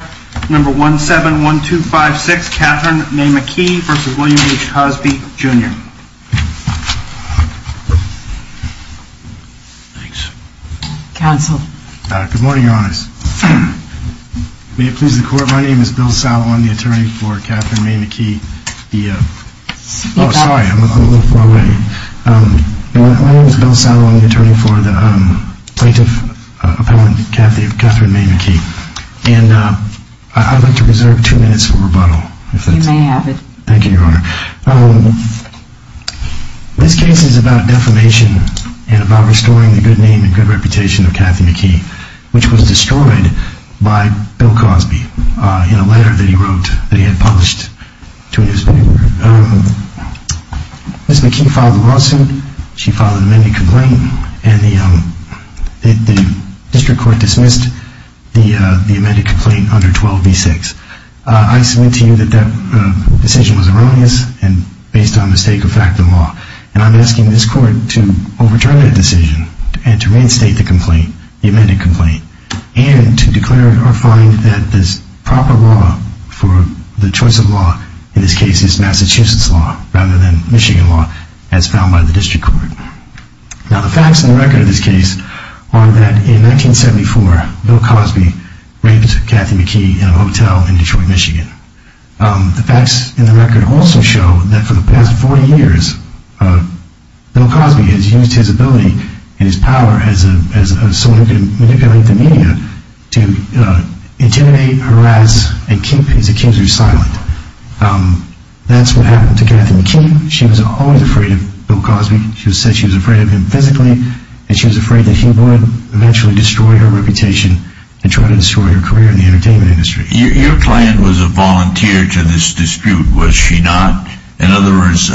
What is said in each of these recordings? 1-7-1-2-5-6 Catherine May McKee v. William H. Cosby, Jr. Good morning, Your Honors. May it please the Court, my name is Bill Salamone, the attorney for Catherine May McKee. I'd like to reserve two minutes for rebuttal. You may have it. Thank you, Your Honor. This case is about defamation and about restoring the good name and good reputation of Catherine McKee, which was destroyed by Bill Cosby in a letter that he wrote that he had published to a newspaper. Ms. McKee filed a lawsuit, she filed an amended complaint, and the district court dismissed the amended complaint under 12b-6. I submit to you that that decision was erroneous and based on mistake of fact of the law. And I'm asking this Court to overturn that decision and to reinstate the complaint, the amended complaint, and to declare or find that the proper law for the choice of law in this case is Massachusetts law, rather than Michigan law as found by the district court. Now the facts in the record of this case are that in 1974, Bill Cosby raped Catherine McKee in a hotel in Detroit, Michigan. The facts in the record also show that for the past 40 years, Bill Cosby has used his ability and his power as someone who can manipulate the media to intimidate, harass, and keep his accusers silent. That's what happened to Catherine McKee. She was always afraid of Bill Cosby. She said she was afraid of him physically, and she was afraid that he would eventually destroy her reputation and try to destroy her career in the entertainment industry. Your client was a volunteer to this dispute, was she not? In other words,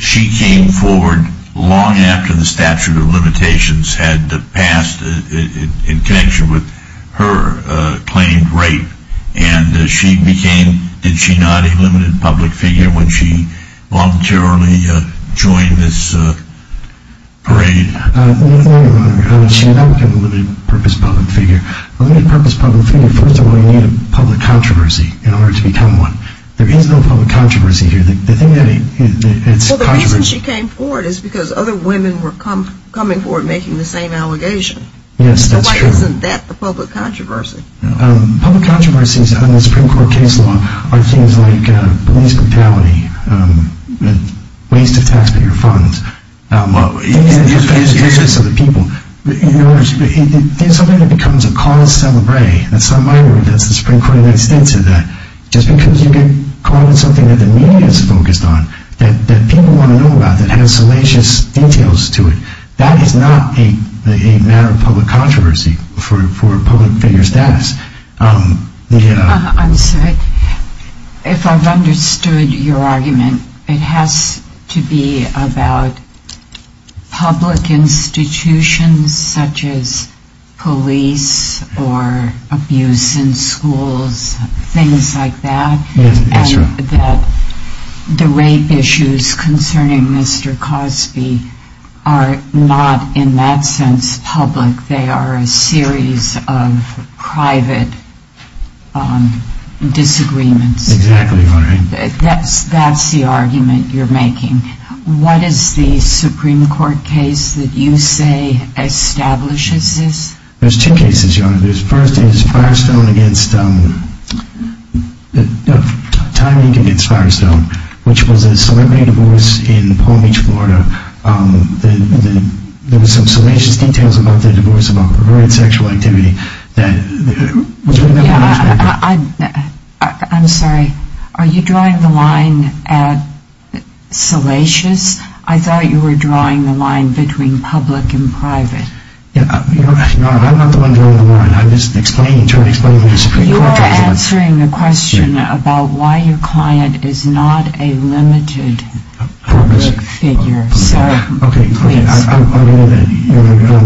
she came forward long after the statute of limitations had passed in connection with her claimed rape, and she became, did she not, a limited public figure when she voluntarily joined this parade? She was not a limited purpose public figure. A limited purpose public figure, first of all, you need a public controversy in order to become one. There is no public controversy here. Well, the reason she came forward is because other women were coming forward making the same allegation. Yes, that's true. So why isn't that the public controversy? Public controversies on the Supreme Court case law are things like police brutality, waste of taxpayer funds, abuse of the people. In other words, there's something that becomes a cause to celebrate, and somebody that's the Supreme Court of the United States said that, just because you can call it something that the media is focused on, that people want to know about, that has salacious details to it, that is not a matter of public controversy for a public figure's status. I'm sorry. If I've understood your argument, it has to be about public institutions, such as police or abuse in schools, things like that, and that the rape issues concerning Mr. Cosby are not, in that sense, public. They are a series of private disagreements. Exactly, Your Honor. That's the argument you're making. What is the Supreme Court case that you say establishes this? There's two cases, Your Honor. The first is timing against Firestone, which was a celebrity divorce in Palm Beach, Florida. There were some salacious details about the divorce, about perverted sexual activity. I'm sorry. Are you drawing the line at salacious? I thought you were drawing the line between public and private. Your Honor, I'm not the one drawing the line. You are answering the question about why your client is not a limited public figure. Okay.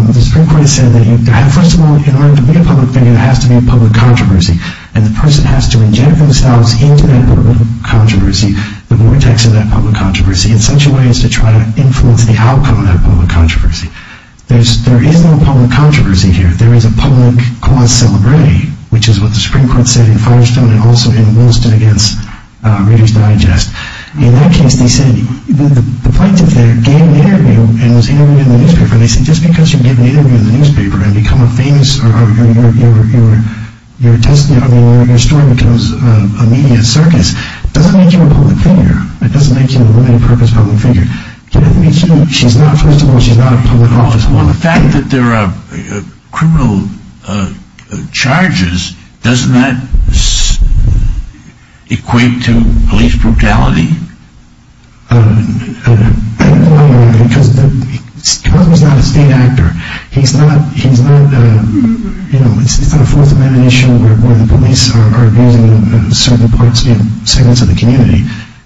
The Supreme Court has said that, first of all, in order to be a public figure, there has to be a public controversy, and the person has to inject themselves into that public controversy, the vortex of that public controversy, in such a way as to try to influence the outcome of that public controversy. There is no public controversy here. There is a public cause celebre, which is what the Supreme Court said in Firestone and also in Williston against Reader's Digest. In that case, they said, the plaintiff there gave an interview and was interviewed in the newspaper, and they said, just because you give an interview in the newspaper and become a famous, or your story becomes a media circus, doesn't make you a public figure. It doesn't make you a limited purpose public figure. She's not, first of all, she's not a public officer. Well, the fact that there are criminal charges, doesn't that equate to police brutality? I don't know why or why. Because he's not a state actor. He's not, you know, it's not a Fourth Amendment issue where the police are abusing certain parts of the community.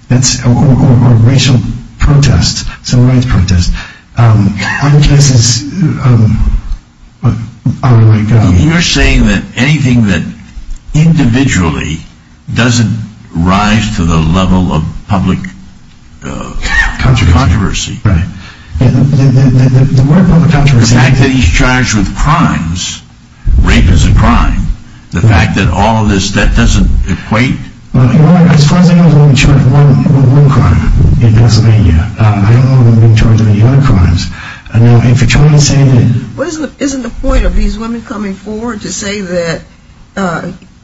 That's a racial protest, a civil rights protest. I guess it's, I don't know. You're saying that anything that individually doesn't rise to the level of public controversy. Right. The word public controversy. The fact that he's charged with crimes, rape is a crime. The fact that all of this, that doesn't equate. As far as I know, he was only charged with one crime in Pennsylvania. I don't know if he was being charged with any other crimes. Now, if you're trying to say that. Isn't the point of these women coming forward to say that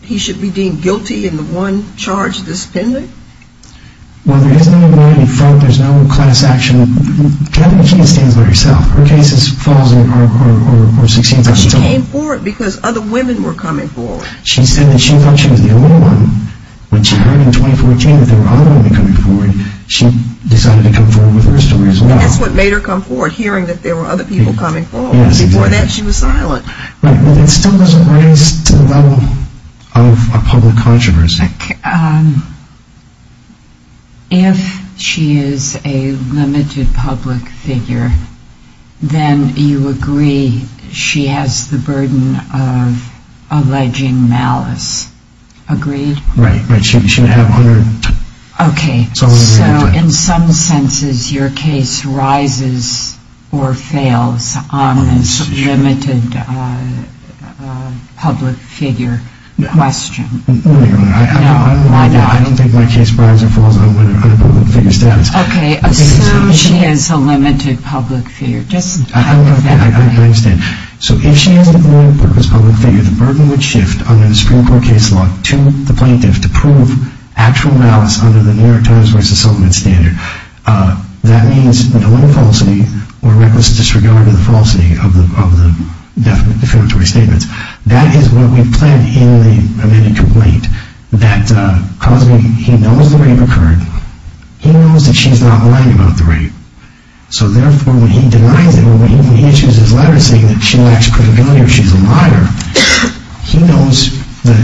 he should be deemed guilty in the one charge that's pending? Well, there isn't anybody in front. There's no class action. Kevin McKeon stands by herself. Her case is false or succinct. She came forward because other women were coming forward. She said that she thought she was the only one. When she heard in 2014 that there were other women coming forward, she decided to come forward with her story as well. That's what made her come forward, hearing that there were other people coming forward. Before that, she was silent. But that still doesn't rise to the level of a public controversy. If she is a limited public figure, then you agree she has the burden of alleging malice. Agreed? Right. Right. She should have 100. Okay. So in some senses, your case rises or fails on this limited public figure question. No, Your Honor. I don't think my case rises or falls on a public figure status. Okay. Assume she is a limited public figure. I understand. So if she is a limited public figure, the burden would shift under the Supreme Court case law to the plaintiff to prove actual malice under the New York Times v. Sultan and Standard. That means the deliberate falsity or reckless disregard of the falsity of the defamatory statements. That is what we've planned in the amended complaint, that Cosby, he knows the rape occurred. He knows that she's not lying about the rape. So therefore, when he denies it, when he issues his letter saying that she lacks credibility or she's a liar, he knows that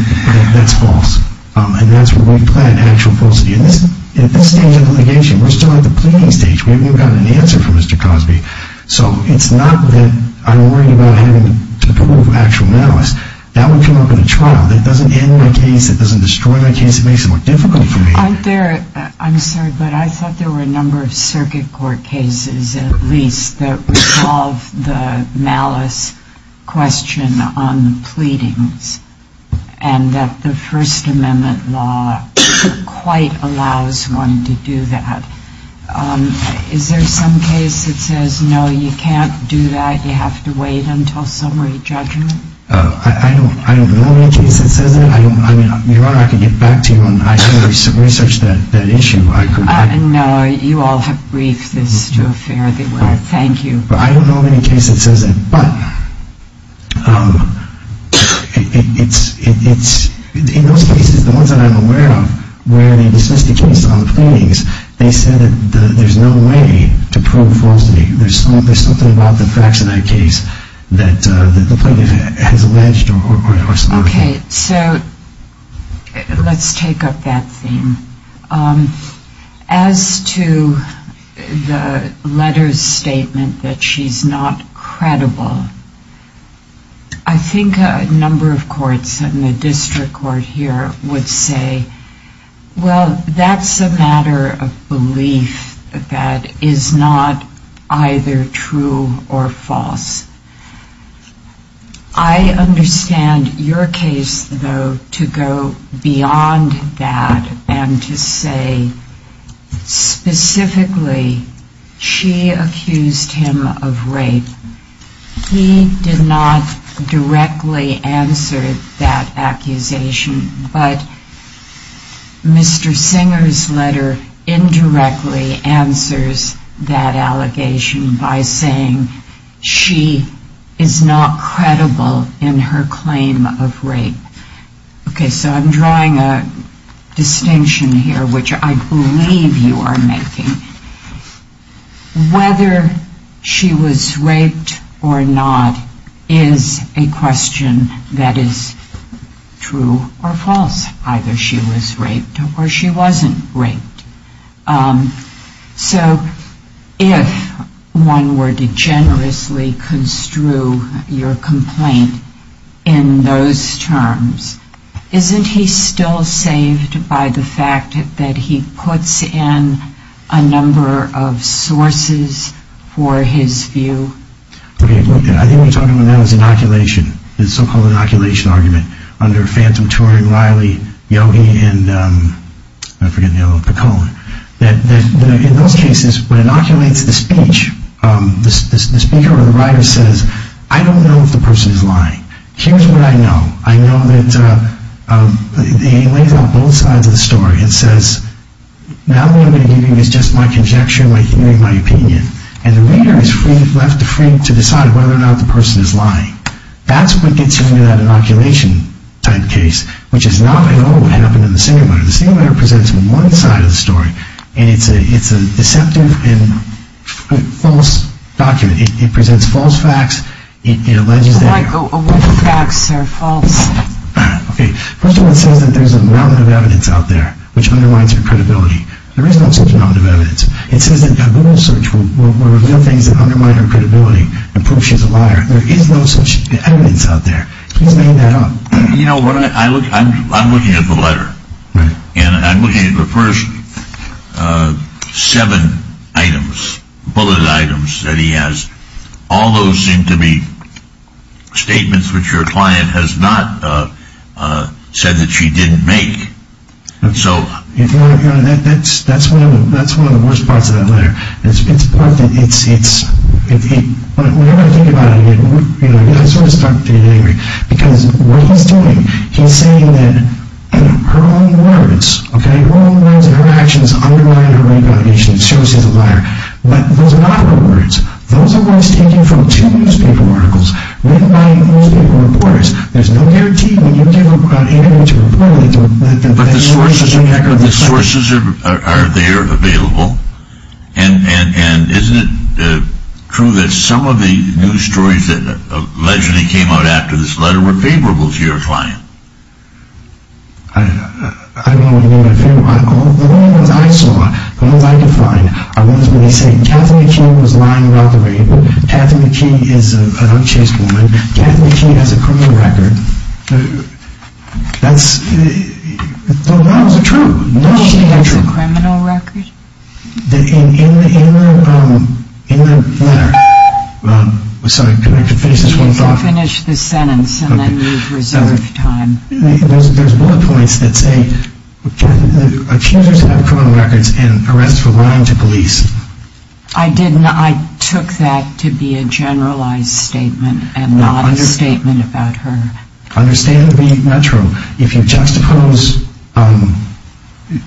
that's false. And that's what we've planned, actual falsity. And at this stage of the litigation, we're still at the pleading stage. We haven't gotten an answer from Mr. Cosby. So it's not that I'm worried about him to prove actual malice. That would come up in a trial. That doesn't end my case. That doesn't destroy my case. It makes it more difficult for me. I'm sorry, but I thought there were a number of circuit court cases at least that resolve the malice question on the pleadings and that the First Amendment law quite allows one to do that. Is there some case that says, no, you can't do that, you have to wait until summary judgment? I don't know of any case that says that. I mean, Your Honor, I can get back to you on that. I can research that issue. No, you all have briefed this to a fair degree. Thank you. But I don't know of any case that says that. But in those cases, the ones that I'm aware of, where they dismiss the case on the pleadings, they said that there's no way to prove falsity. There's something about the Fraxinide case that the plaintiff has alleged or supported. Okay. So let's take up that theme. As to the letter's statement that she's not credible, I think a number of courts and the district court here would say, well, that's a matter of belief that is not either true or false. I understand your case, though, to go beyond that and to say specifically she accused him of rape. He did not directly answer that accusation, but Mr. Singer's letter indirectly answers that allegation by saying she is not credible in her claim of rape. Okay. So I'm drawing a distinction here, which I believe you are making. Whether she was raped or not is a question that is true or false. Either she was raped or she wasn't raped. So if one were to generously construe your complaint in those terms, isn't he still saved by the fact that he puts in a number of sources for his view? Okay. So I'm drawing a distinction here. And it's a deceptive and false document. It presents false facts. It alleges that... Michael, what facts are false? Okay. First of all, it says that there's a mountain of evidence out there which undermines her credibility. There is no such mountain of evidence. It says that a Google search will reveal things that undermine her credibility and prove she's a liar. There is no such evidence out there. Please make that up. You know, I'm looking at the letter. And I'm looking at the first seven items, bulleted items that he has. All those seem to be statements which your client has not said that she didn't make. So... That's one of the worst parts of that letter. It's part that it's... Whenever I think about it, I sort of start to get angry. Because what he's doing, he's saying that her own words, okay, her own words and her actions undermine her credibility and show she's a liar. But those are not her words. Those are words taken from two newspaper articles written by newspaper reporters. There's no guarantee when you give an interview to a reporter that... But the sources are there available. And isn't it true that some of the news stories that allegedly came out after this letter were favorable to your client? I don't know what you mean by favorable. The only ones I saw, the ones I could find, are ones where he's saying, Catherine McKee was lying about the rape. Catherine McKee is an unchaste woman. Catherine McKee has a criminal record. That's... Those are true. Does she have a criminal record? In the letter... Sorry, can I finish this one thought? You can finish the sentence and then reserve time. There's bullet points that say accusers have criminal records and arrests for lying to police. I took that to be a generalized statement and not a statement about her. Understandably not true. If you juxtapose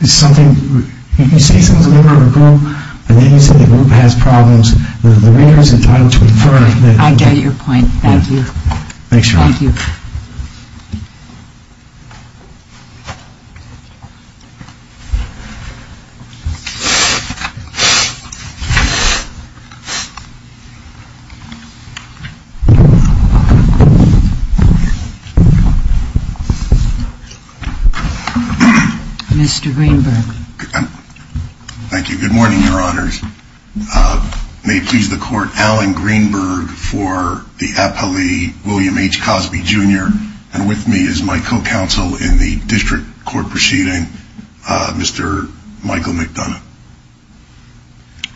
something... If you say something to a member of a group and then you say the group has problems, the reader is entitled to infer... I get your point. Thank you. Thank you. Mr. Greenberg. Thank you. Good morning, Your Honors. May it please the court, Alan Greenberg for the appellee, William H. Cosby, Jr. And with me is my co-counsel in the district court proceeding, Mr. Michael McDonough.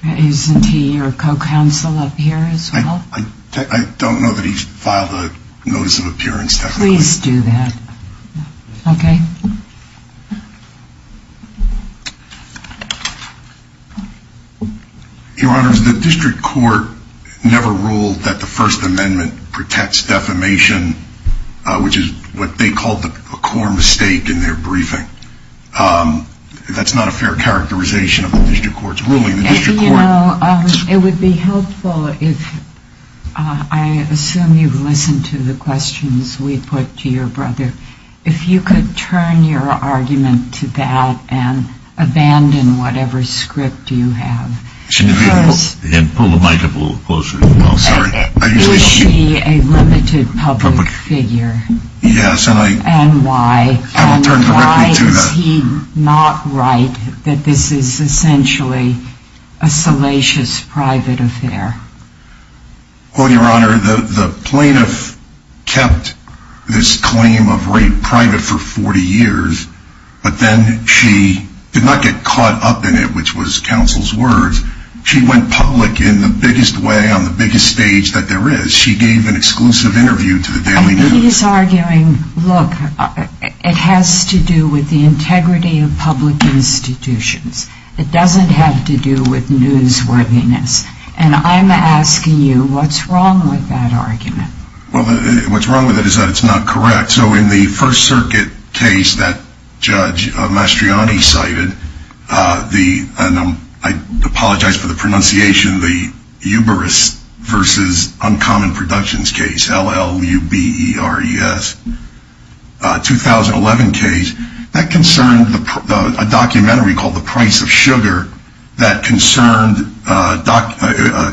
Isn't he your co-counsel up here as well? I don't know that he's filed a notice of appearance. Please do that. Okay. Your Honors, the district court never ruled that the First Amendment protects defamation, which is what they called a core mistake in their briefing. That's not a fair characterization of the district court's ruling. It would be helpful if, I assume you've listened to the questions we put to your brother, if you could turn your argument to that and abandon whatever script you have. And pull the mic up a little closer. Is he a limited public figure? Yes. And why? I will turn directly to the... A salacious private affair. Well, Your Honor, the plaintiff kept this claim of rape private for 40 years, but then she did not get caught up in it, which was counsel's words. She went public in the biggest way on the biggest stage that there is. She gave an exclusive interview to the Daily News. He's arguing, look, it has to do with the integrity of public institutions. It doesn't have to do with newsworthiness. And I'm asking you, what's wrong with that argument? Well, what's wrong with it is that it's not correct. So in the First Circuit case that Judge Mastriani cited, and I apologize for the pronunciation, the Uberus versus Uncommon Productions case, L-L-U-B-E-R-E-S, 2011 case, that concerned a documentary called The Price of Sugar that concerned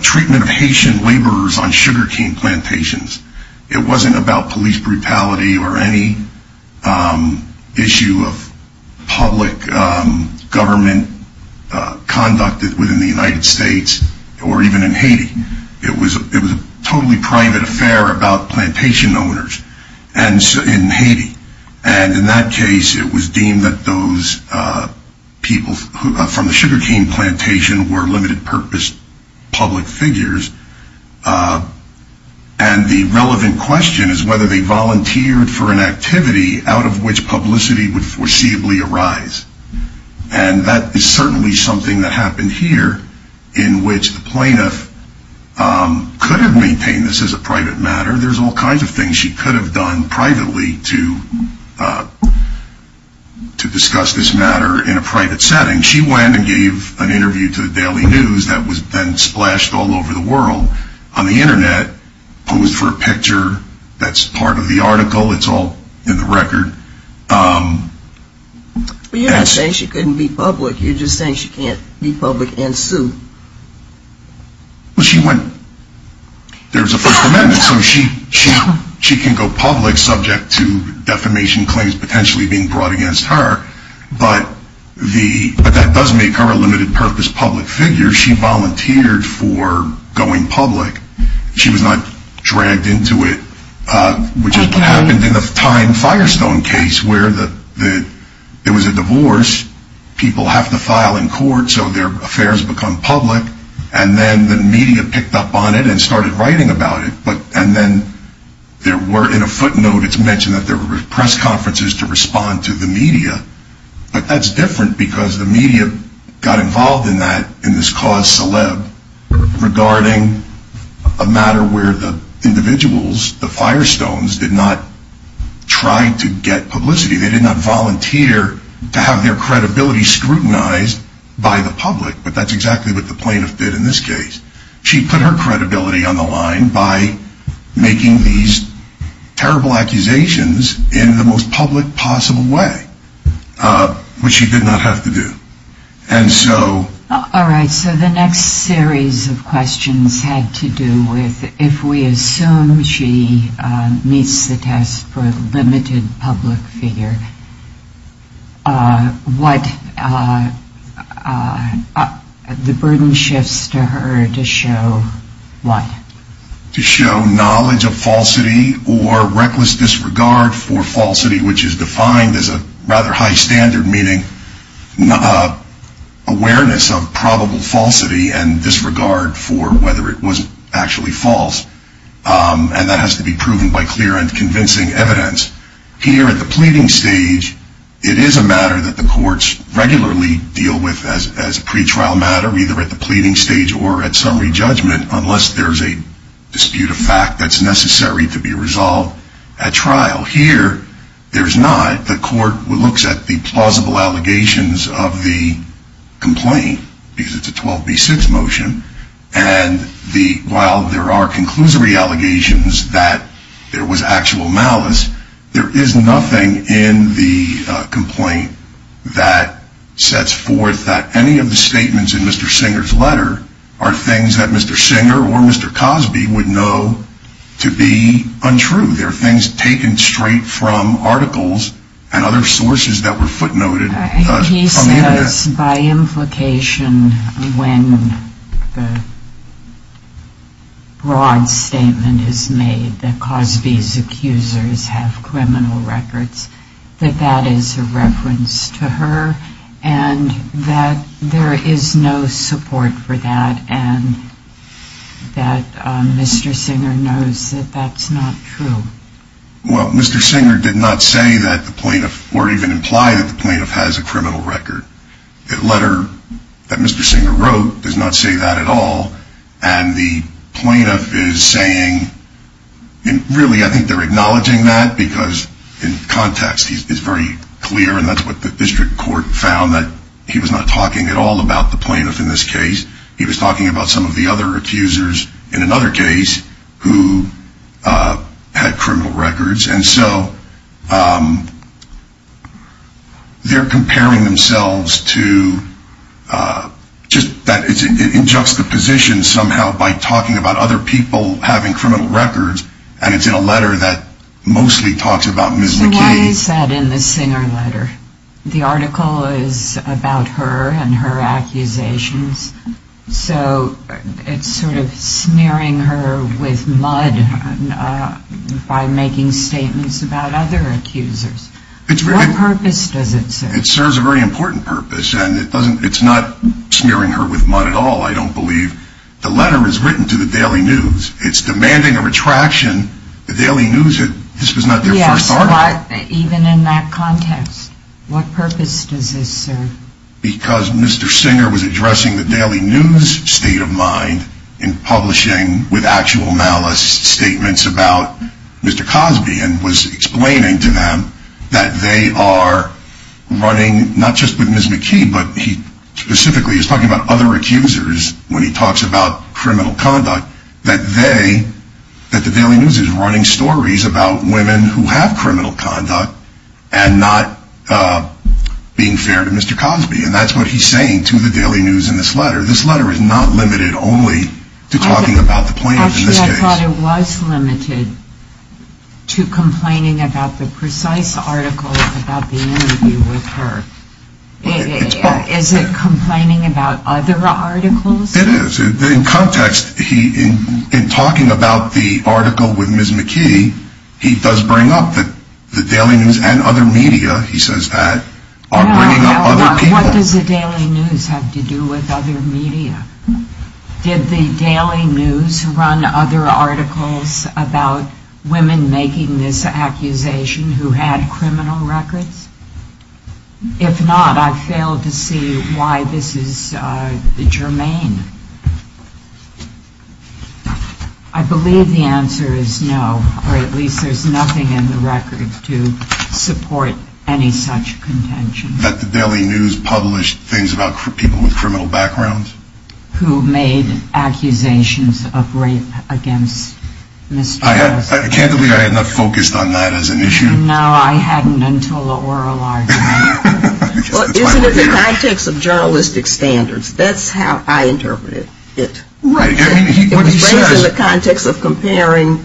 treatment of Haitian laborers on sugarcane plantations. It wasn't about police brutality or any issue of public government conduct within the United States or even in Haiti. It was a totally private affair about plantation owners in Haiti. And in that case, it was deemed that those people from the sugarcane plantation were limited purpose public figures. And the relevant question is whether they volunteered for an activity out of which publicity would foreseeably arise. And that is certainly something that happened here in which the plaintiff could have maintained this as a private matter. There's all kinds of things she could have done privately to discuss this matter in a private setting. She went and gave an interview to the Daily News that was then splashed all over the world on the Internet, posed for a picture that's part of the article. It's all in the record. But you're not saying she couldn't be public. You're just saying she can't be public and sue. Well, she went. There's a First Amendment, so she can go public subject to defamation claims potentially being brought against her. But that does make her a limited purpose public figure. She volunteered for going public. She was not dragged into it, which is what happened in the Time Firestone case where there was a divorce. People have to file in court so their affairs become public. And then the media picked up on it and started writing about it. And then there were, in a footnote, it's mentioned that there were press conferences to respond to the media. But that's different because the media got involved in this cause celeb regarding a matter where the individuals, the Firestones, did not try to get publicity. They did not volunteer to have their credibility scrutinized by the public. But that's exactly what the plaintiff did in this case. She put her credibility on the line by making these terrible accusations in the most public possible way, which she did not have to do. All right, so the next series of questions had to do with if we assume she meets the test for limited public figure, what the burden shifts to her to show what? To show knowledge of falsity or reckless disregard for falsity, which is defined as a rather high standard meaning awareness of probable falsity and disregard for whether it was actually false. And that has to be proven by clear and convincing evidence. Here at the pleading stage, it is a matter that the courts regularly deal with as a pretrial matter, either at the pleading stage or at summary judgment, unless there's a dispute of fact that's necessary to be resolved at trial. Here, there's not. The court looks at the plausible allegations of the complaint because it's a 12B6 motion. And while there are conclusory allegations that there was actual malice, there is nothing in the complaint that sets forth that any of the statements in Mr. Singer's letter are things that Mr. Singer or Mr. Cosby would know to be untrue. They're things taken straight from articles and other sources that were footnoted. He says by implication when the broad statement is made that Cosby's accusers have criminal records, that that is a reference to her and that there is no support for that and that Mr. Singer knows that that's not true. Well, Mr. Singer did not say that the plaintiff or even imply that the plaintiff has a criminal record. The letter that Mr. Singer wrote does not say that at all. And the plaintiff is saying, and really I think they're acknowledging that because in context it's very clear, and that's what the district court found, that he was not talking at all about the plaintiff in this case. He was talking about some of the other accusers in another case who had criminal records. And so they're comparing themselves to, it's in juxtaposition somehow by talking about other people having criminal records, and it's in a letter that mostly talks about Ms. McKee. So why is that in the Singer letter? The article is about her and her accusations. So it's sort of smearing her with mud by making statements about other accusers. What purpose does it serve? It serves a very important purpose, and it's not smearing her with mud at all, I don't believe. The letter is written to the Daily News. It's demanding a retraction. The Daily News, this was not their first article. But even in that context, what purpose does this serve? Because Mr. Singer was addressing the Daily News state of mind in publishing with actual malice statements about Mr. Cosby and was explaining to them that they are running, not just with Ms. McKee, but he specifically is talking about other accusers when he talks about criminal conduct, that they, that the Daily News is running stories about women who have criminal conduct and not being fair to Mr. Cosby. And that's what he's saying to the Daily News in this letter. This letter is not limited only to talking about the plaintiff in this case. Actually, I thought it was limited to complaining about the precise article about the interview with her. It's both. Is it complaining about other articles? It is. In context, he, in talking about the article with Ms. McKee, he does bring up that the Daily News and other media, he says that, are bringing up other people. What does the Daily News have to do with other media? Did the Daily News run other articles about women making this accusation who had criminal records? If not, I failed to see why this is germane. I believe the answer is no, or at least there's nothing in the record to support any such contention. That the Daily News published things about people with criminal backgrounds? Who made accusations of rape against Mr. Cosby. I can't believe I had not focused on that as an issue. No, I hadn't until the oral argument. Well, isn't it the context of journalistic standards? That's how I interpret it. Right. It was raised in the context of comparing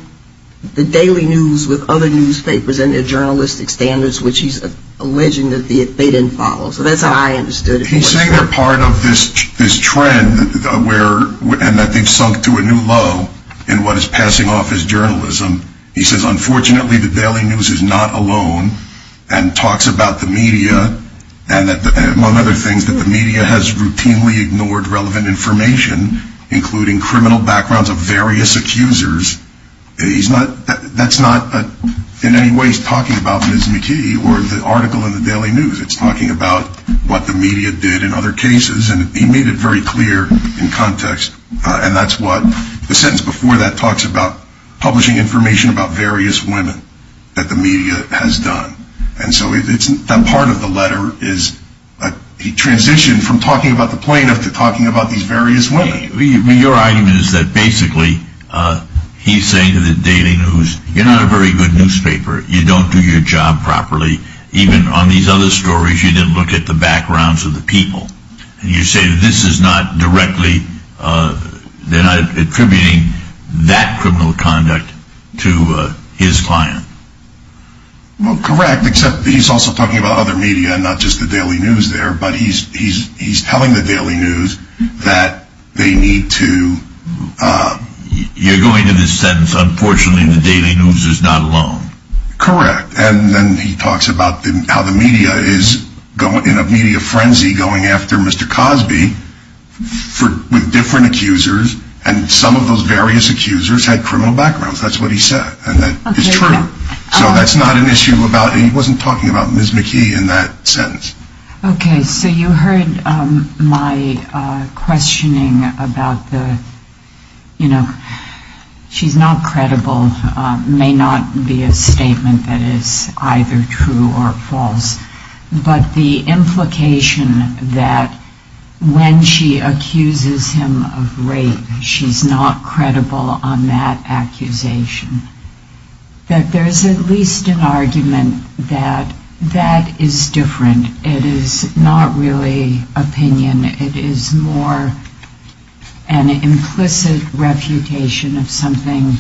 the Daily News with other newspapers and their journalistic standards, which he's alleging that they didn't follow. So that's how I understood it. He's saying they're part of this trend and that they've sunk to a new low in what is passing off as journalism. He says, unfortunately, the Daily News is not alone and talks about the media and among other things that the media has routinely ignored relevant information, including criminal backgrounds of various accusers. That's not in any way talking about Ms. McKee or the article in the Daily News. It's talking about what the media did in other cases. And he made it very clear in context. And that's what the sentence before that talks about, publishing information about various women that the media has done. And so that part of the letter is a transition from talking about the plaintiff to talking about these various women. Your argument is that basically he's saying to the Daily News, you're not a very good newspaper. You don't do your job properly. Even on these other stories, you didn't look at the backgrounds of the people. You say this is not directly. They're not attributing that criminal conduct to his client. Well, correct, except he's also talking about other media and not just the Daily News there. But he's he's he's telling the Daily News that they need to. You're going to this sentence. Unfortunately, the Daily News is not alone. Correct. And then he talks about how the media is going in a media frenzy going after Mr. Cosby for with different accusers. And some of those various accusers had criminal backgrounds. That's what he said. And that is true. So that's not an issue about he wasn't talking about Ms. McKee in that sentence. OK, so you heard my questioning about the, you know, she's not credible, may not be a statement that is either true or false. But the implication that when she accuses him of rape, she's not credible on that accusation. That there is at least an argument that that is different. It is not really opinion. It is more an implicit refutation of something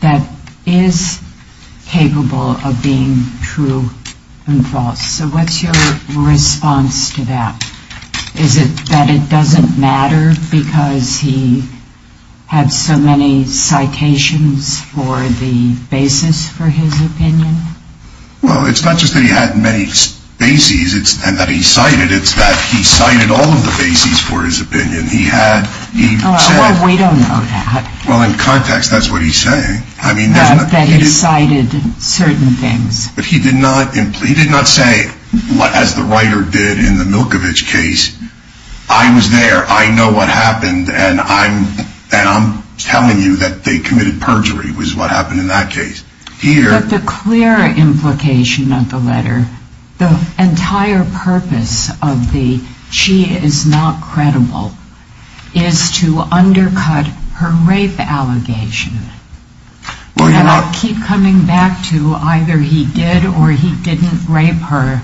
that is capable of being true and false. So what's your response to that? Is it that it doesn't matter because he had so many citations for the basis for his opinion? Well, it's not just that he had many bases and that he cited. It's that he cited all of the bases for his opinion. He had. We don't know that. Well, in context, that's what he's saying. I mean, that he cited certain things. But he did not say, as the writer did in the Milkovich case, I was there. I know what happened. And I'm telling you that they committed perjury was what happened in that case. But the clear implication of the letter, the entire purpose of the she is not credible is to undercut her rape allegation. And I keep coming back to either he did or he didn't rape her.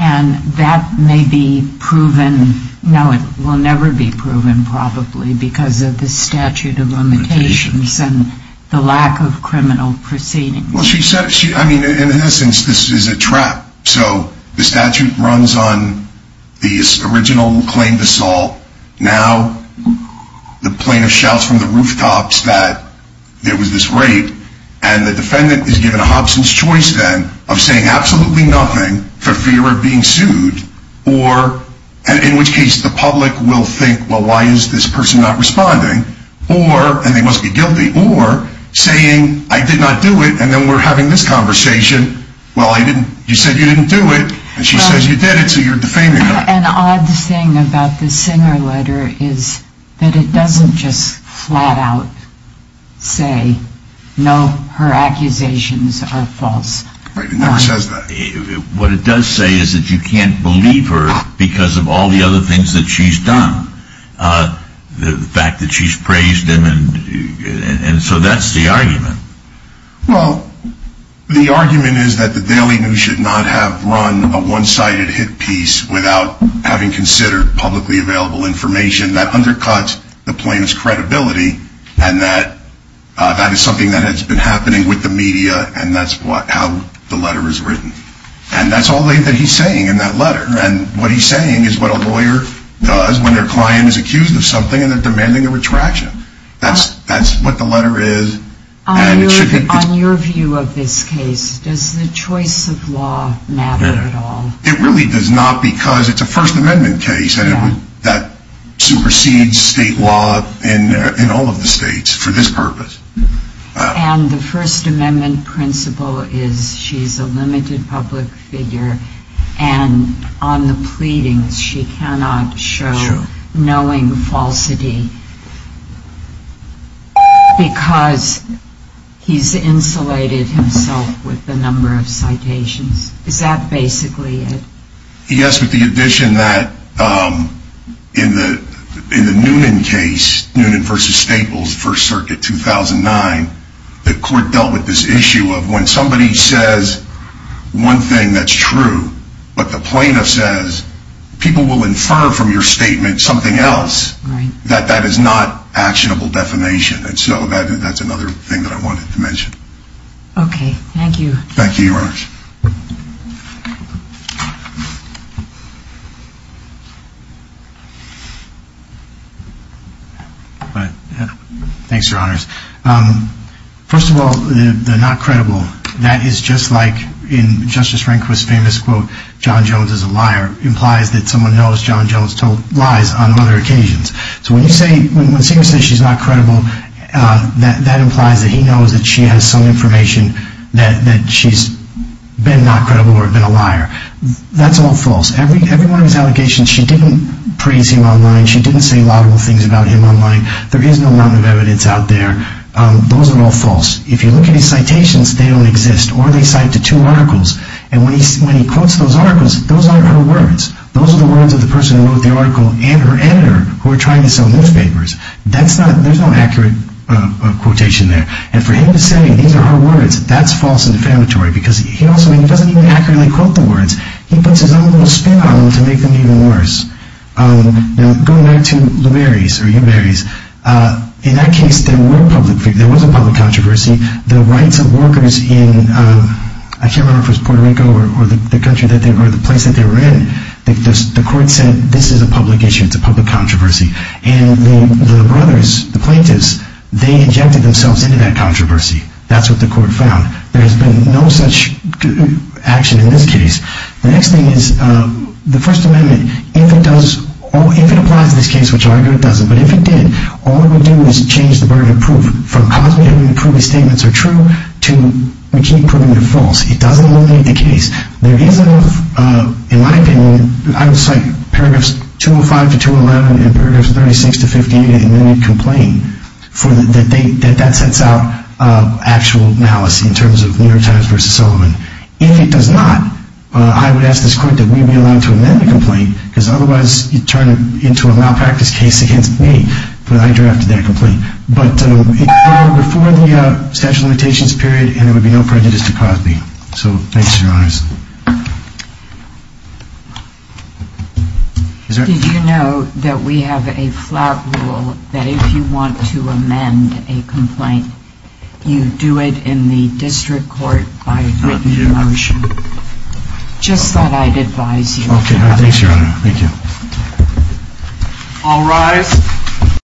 And that may be proven. No, it will never be proven, probably because of the statute of limitations and the lack of criminal proceedings. Well, she said she I mean, in essence, this is a trap. So the statute runs on the original claim to Saul. Now the plaintiff shouts from the rooftops that it was this rape. And the defendant is given a Hobson's choice then of saying absolutely nothing for fear of being sued or in which case the public will think, well, why is this person not responding? Or and they must be guilty or saying, I did not do it. And then we're having this conversation. Well, I didn't. You said you didn't do it. And she says you did it. So you're defaming her. An odd thing about the Singer letter is that it doesn't just flat out say, no, her accusations are false. It never says that. What it does say is that you can't believe her because of all the other things that she's done. The fact that she's praised him. And so that's the argument. Well, the argument is that the Daily News should not have run a one-sided hit piece without having considered publicly available information that undercuts the plaintiff's credibility. And that is something that has been happening with the media. And that's how the letter is written. And that's all that he's saying in that letter. And what he's saying is what a lawyer does when their client is accused of something and they're demanding a retraction. That's what the letter is. On your view of this case, does the choice of law matter at all? It really does not because it's a First Amendment case. And that supersedes state law in all of the states for this purpose. And the First Amendment principle is she's a limited public figure. And on the pleadings, she cannot show knowing falsity because he's insulated himself with the number of citations. Is that basically it? Yes, but the addition that in the Noonan case, Noonan v. Staples, First Circuit 2009, the court dealt with this issue of when somebody says one thing that's true, but the plaintiff says people will infer from your statement something else, that that is not actionable defamation. And so that's another thing that I wanted to mention. Thank you, Your Honors. Thanks, Your Honors. First of all, the not credible, that is just like in Justice Rehnquist's famous quote, John Jones is a liar, implies that someone knows John Jones lies on other occasions. So when you say, when Singer says she's not credible, that implies that he knows that she has some information that she's not credible. That's all false. Every one of his allegations, she didn't praise him online. She didn't say laudable things about him online. There is no amount of evidence out there. Those are all false. If you look at his citations, they don't exist, or they cite to two articles. And when he quotes those articles, those aren't her words. Those are the words of the person who wrote the article and her editor who were trying to sell newspapers. There's no accurate quotation there. And for him to say these are her words, that's false and defamatory because he doesn't even accurately quote the words. He puts his own little spin on them to make them even worse. Now, going back to Lou Berries, or you Berries, in that case there was a public controversy. The rights of workers in, I can't remember if it was Puerto Rico or the place that they were in, the court said this is a public issue, it's a public controversy. And the brothers, the plaintiffs, they injected themselves into that controversy. That's what the court found. There has been no such action in this case. The next thing is the First Amendment. If it does, if it applies to this case, which I argue it doesn't, but if it did, all we would do is change the burden of proof. From causing him to prove his statements are true to making them false. It doesn't eliminate the case. There isn't enough, in my opinion, I would cite paragraphs 205 to 211 and paragraphs 36 to 58 in any complaint that sets out actual malice in terms of New York Times v. Solomon. If it does not, I would ask this court that we be allowed to amend the complaint because otherwise it would turn into a malpractice case against me when I drafted that complaint. But it would be before the statute of limitations period and there would be no prejudice to Cosby. So thanks, Your Honors. Did you know that we have a flat rule that if you want to amend a complaint, you do it in the district court by written motion? Just that I'd advise you. Okay. Thanks, Your Honor. Thank you. All rise.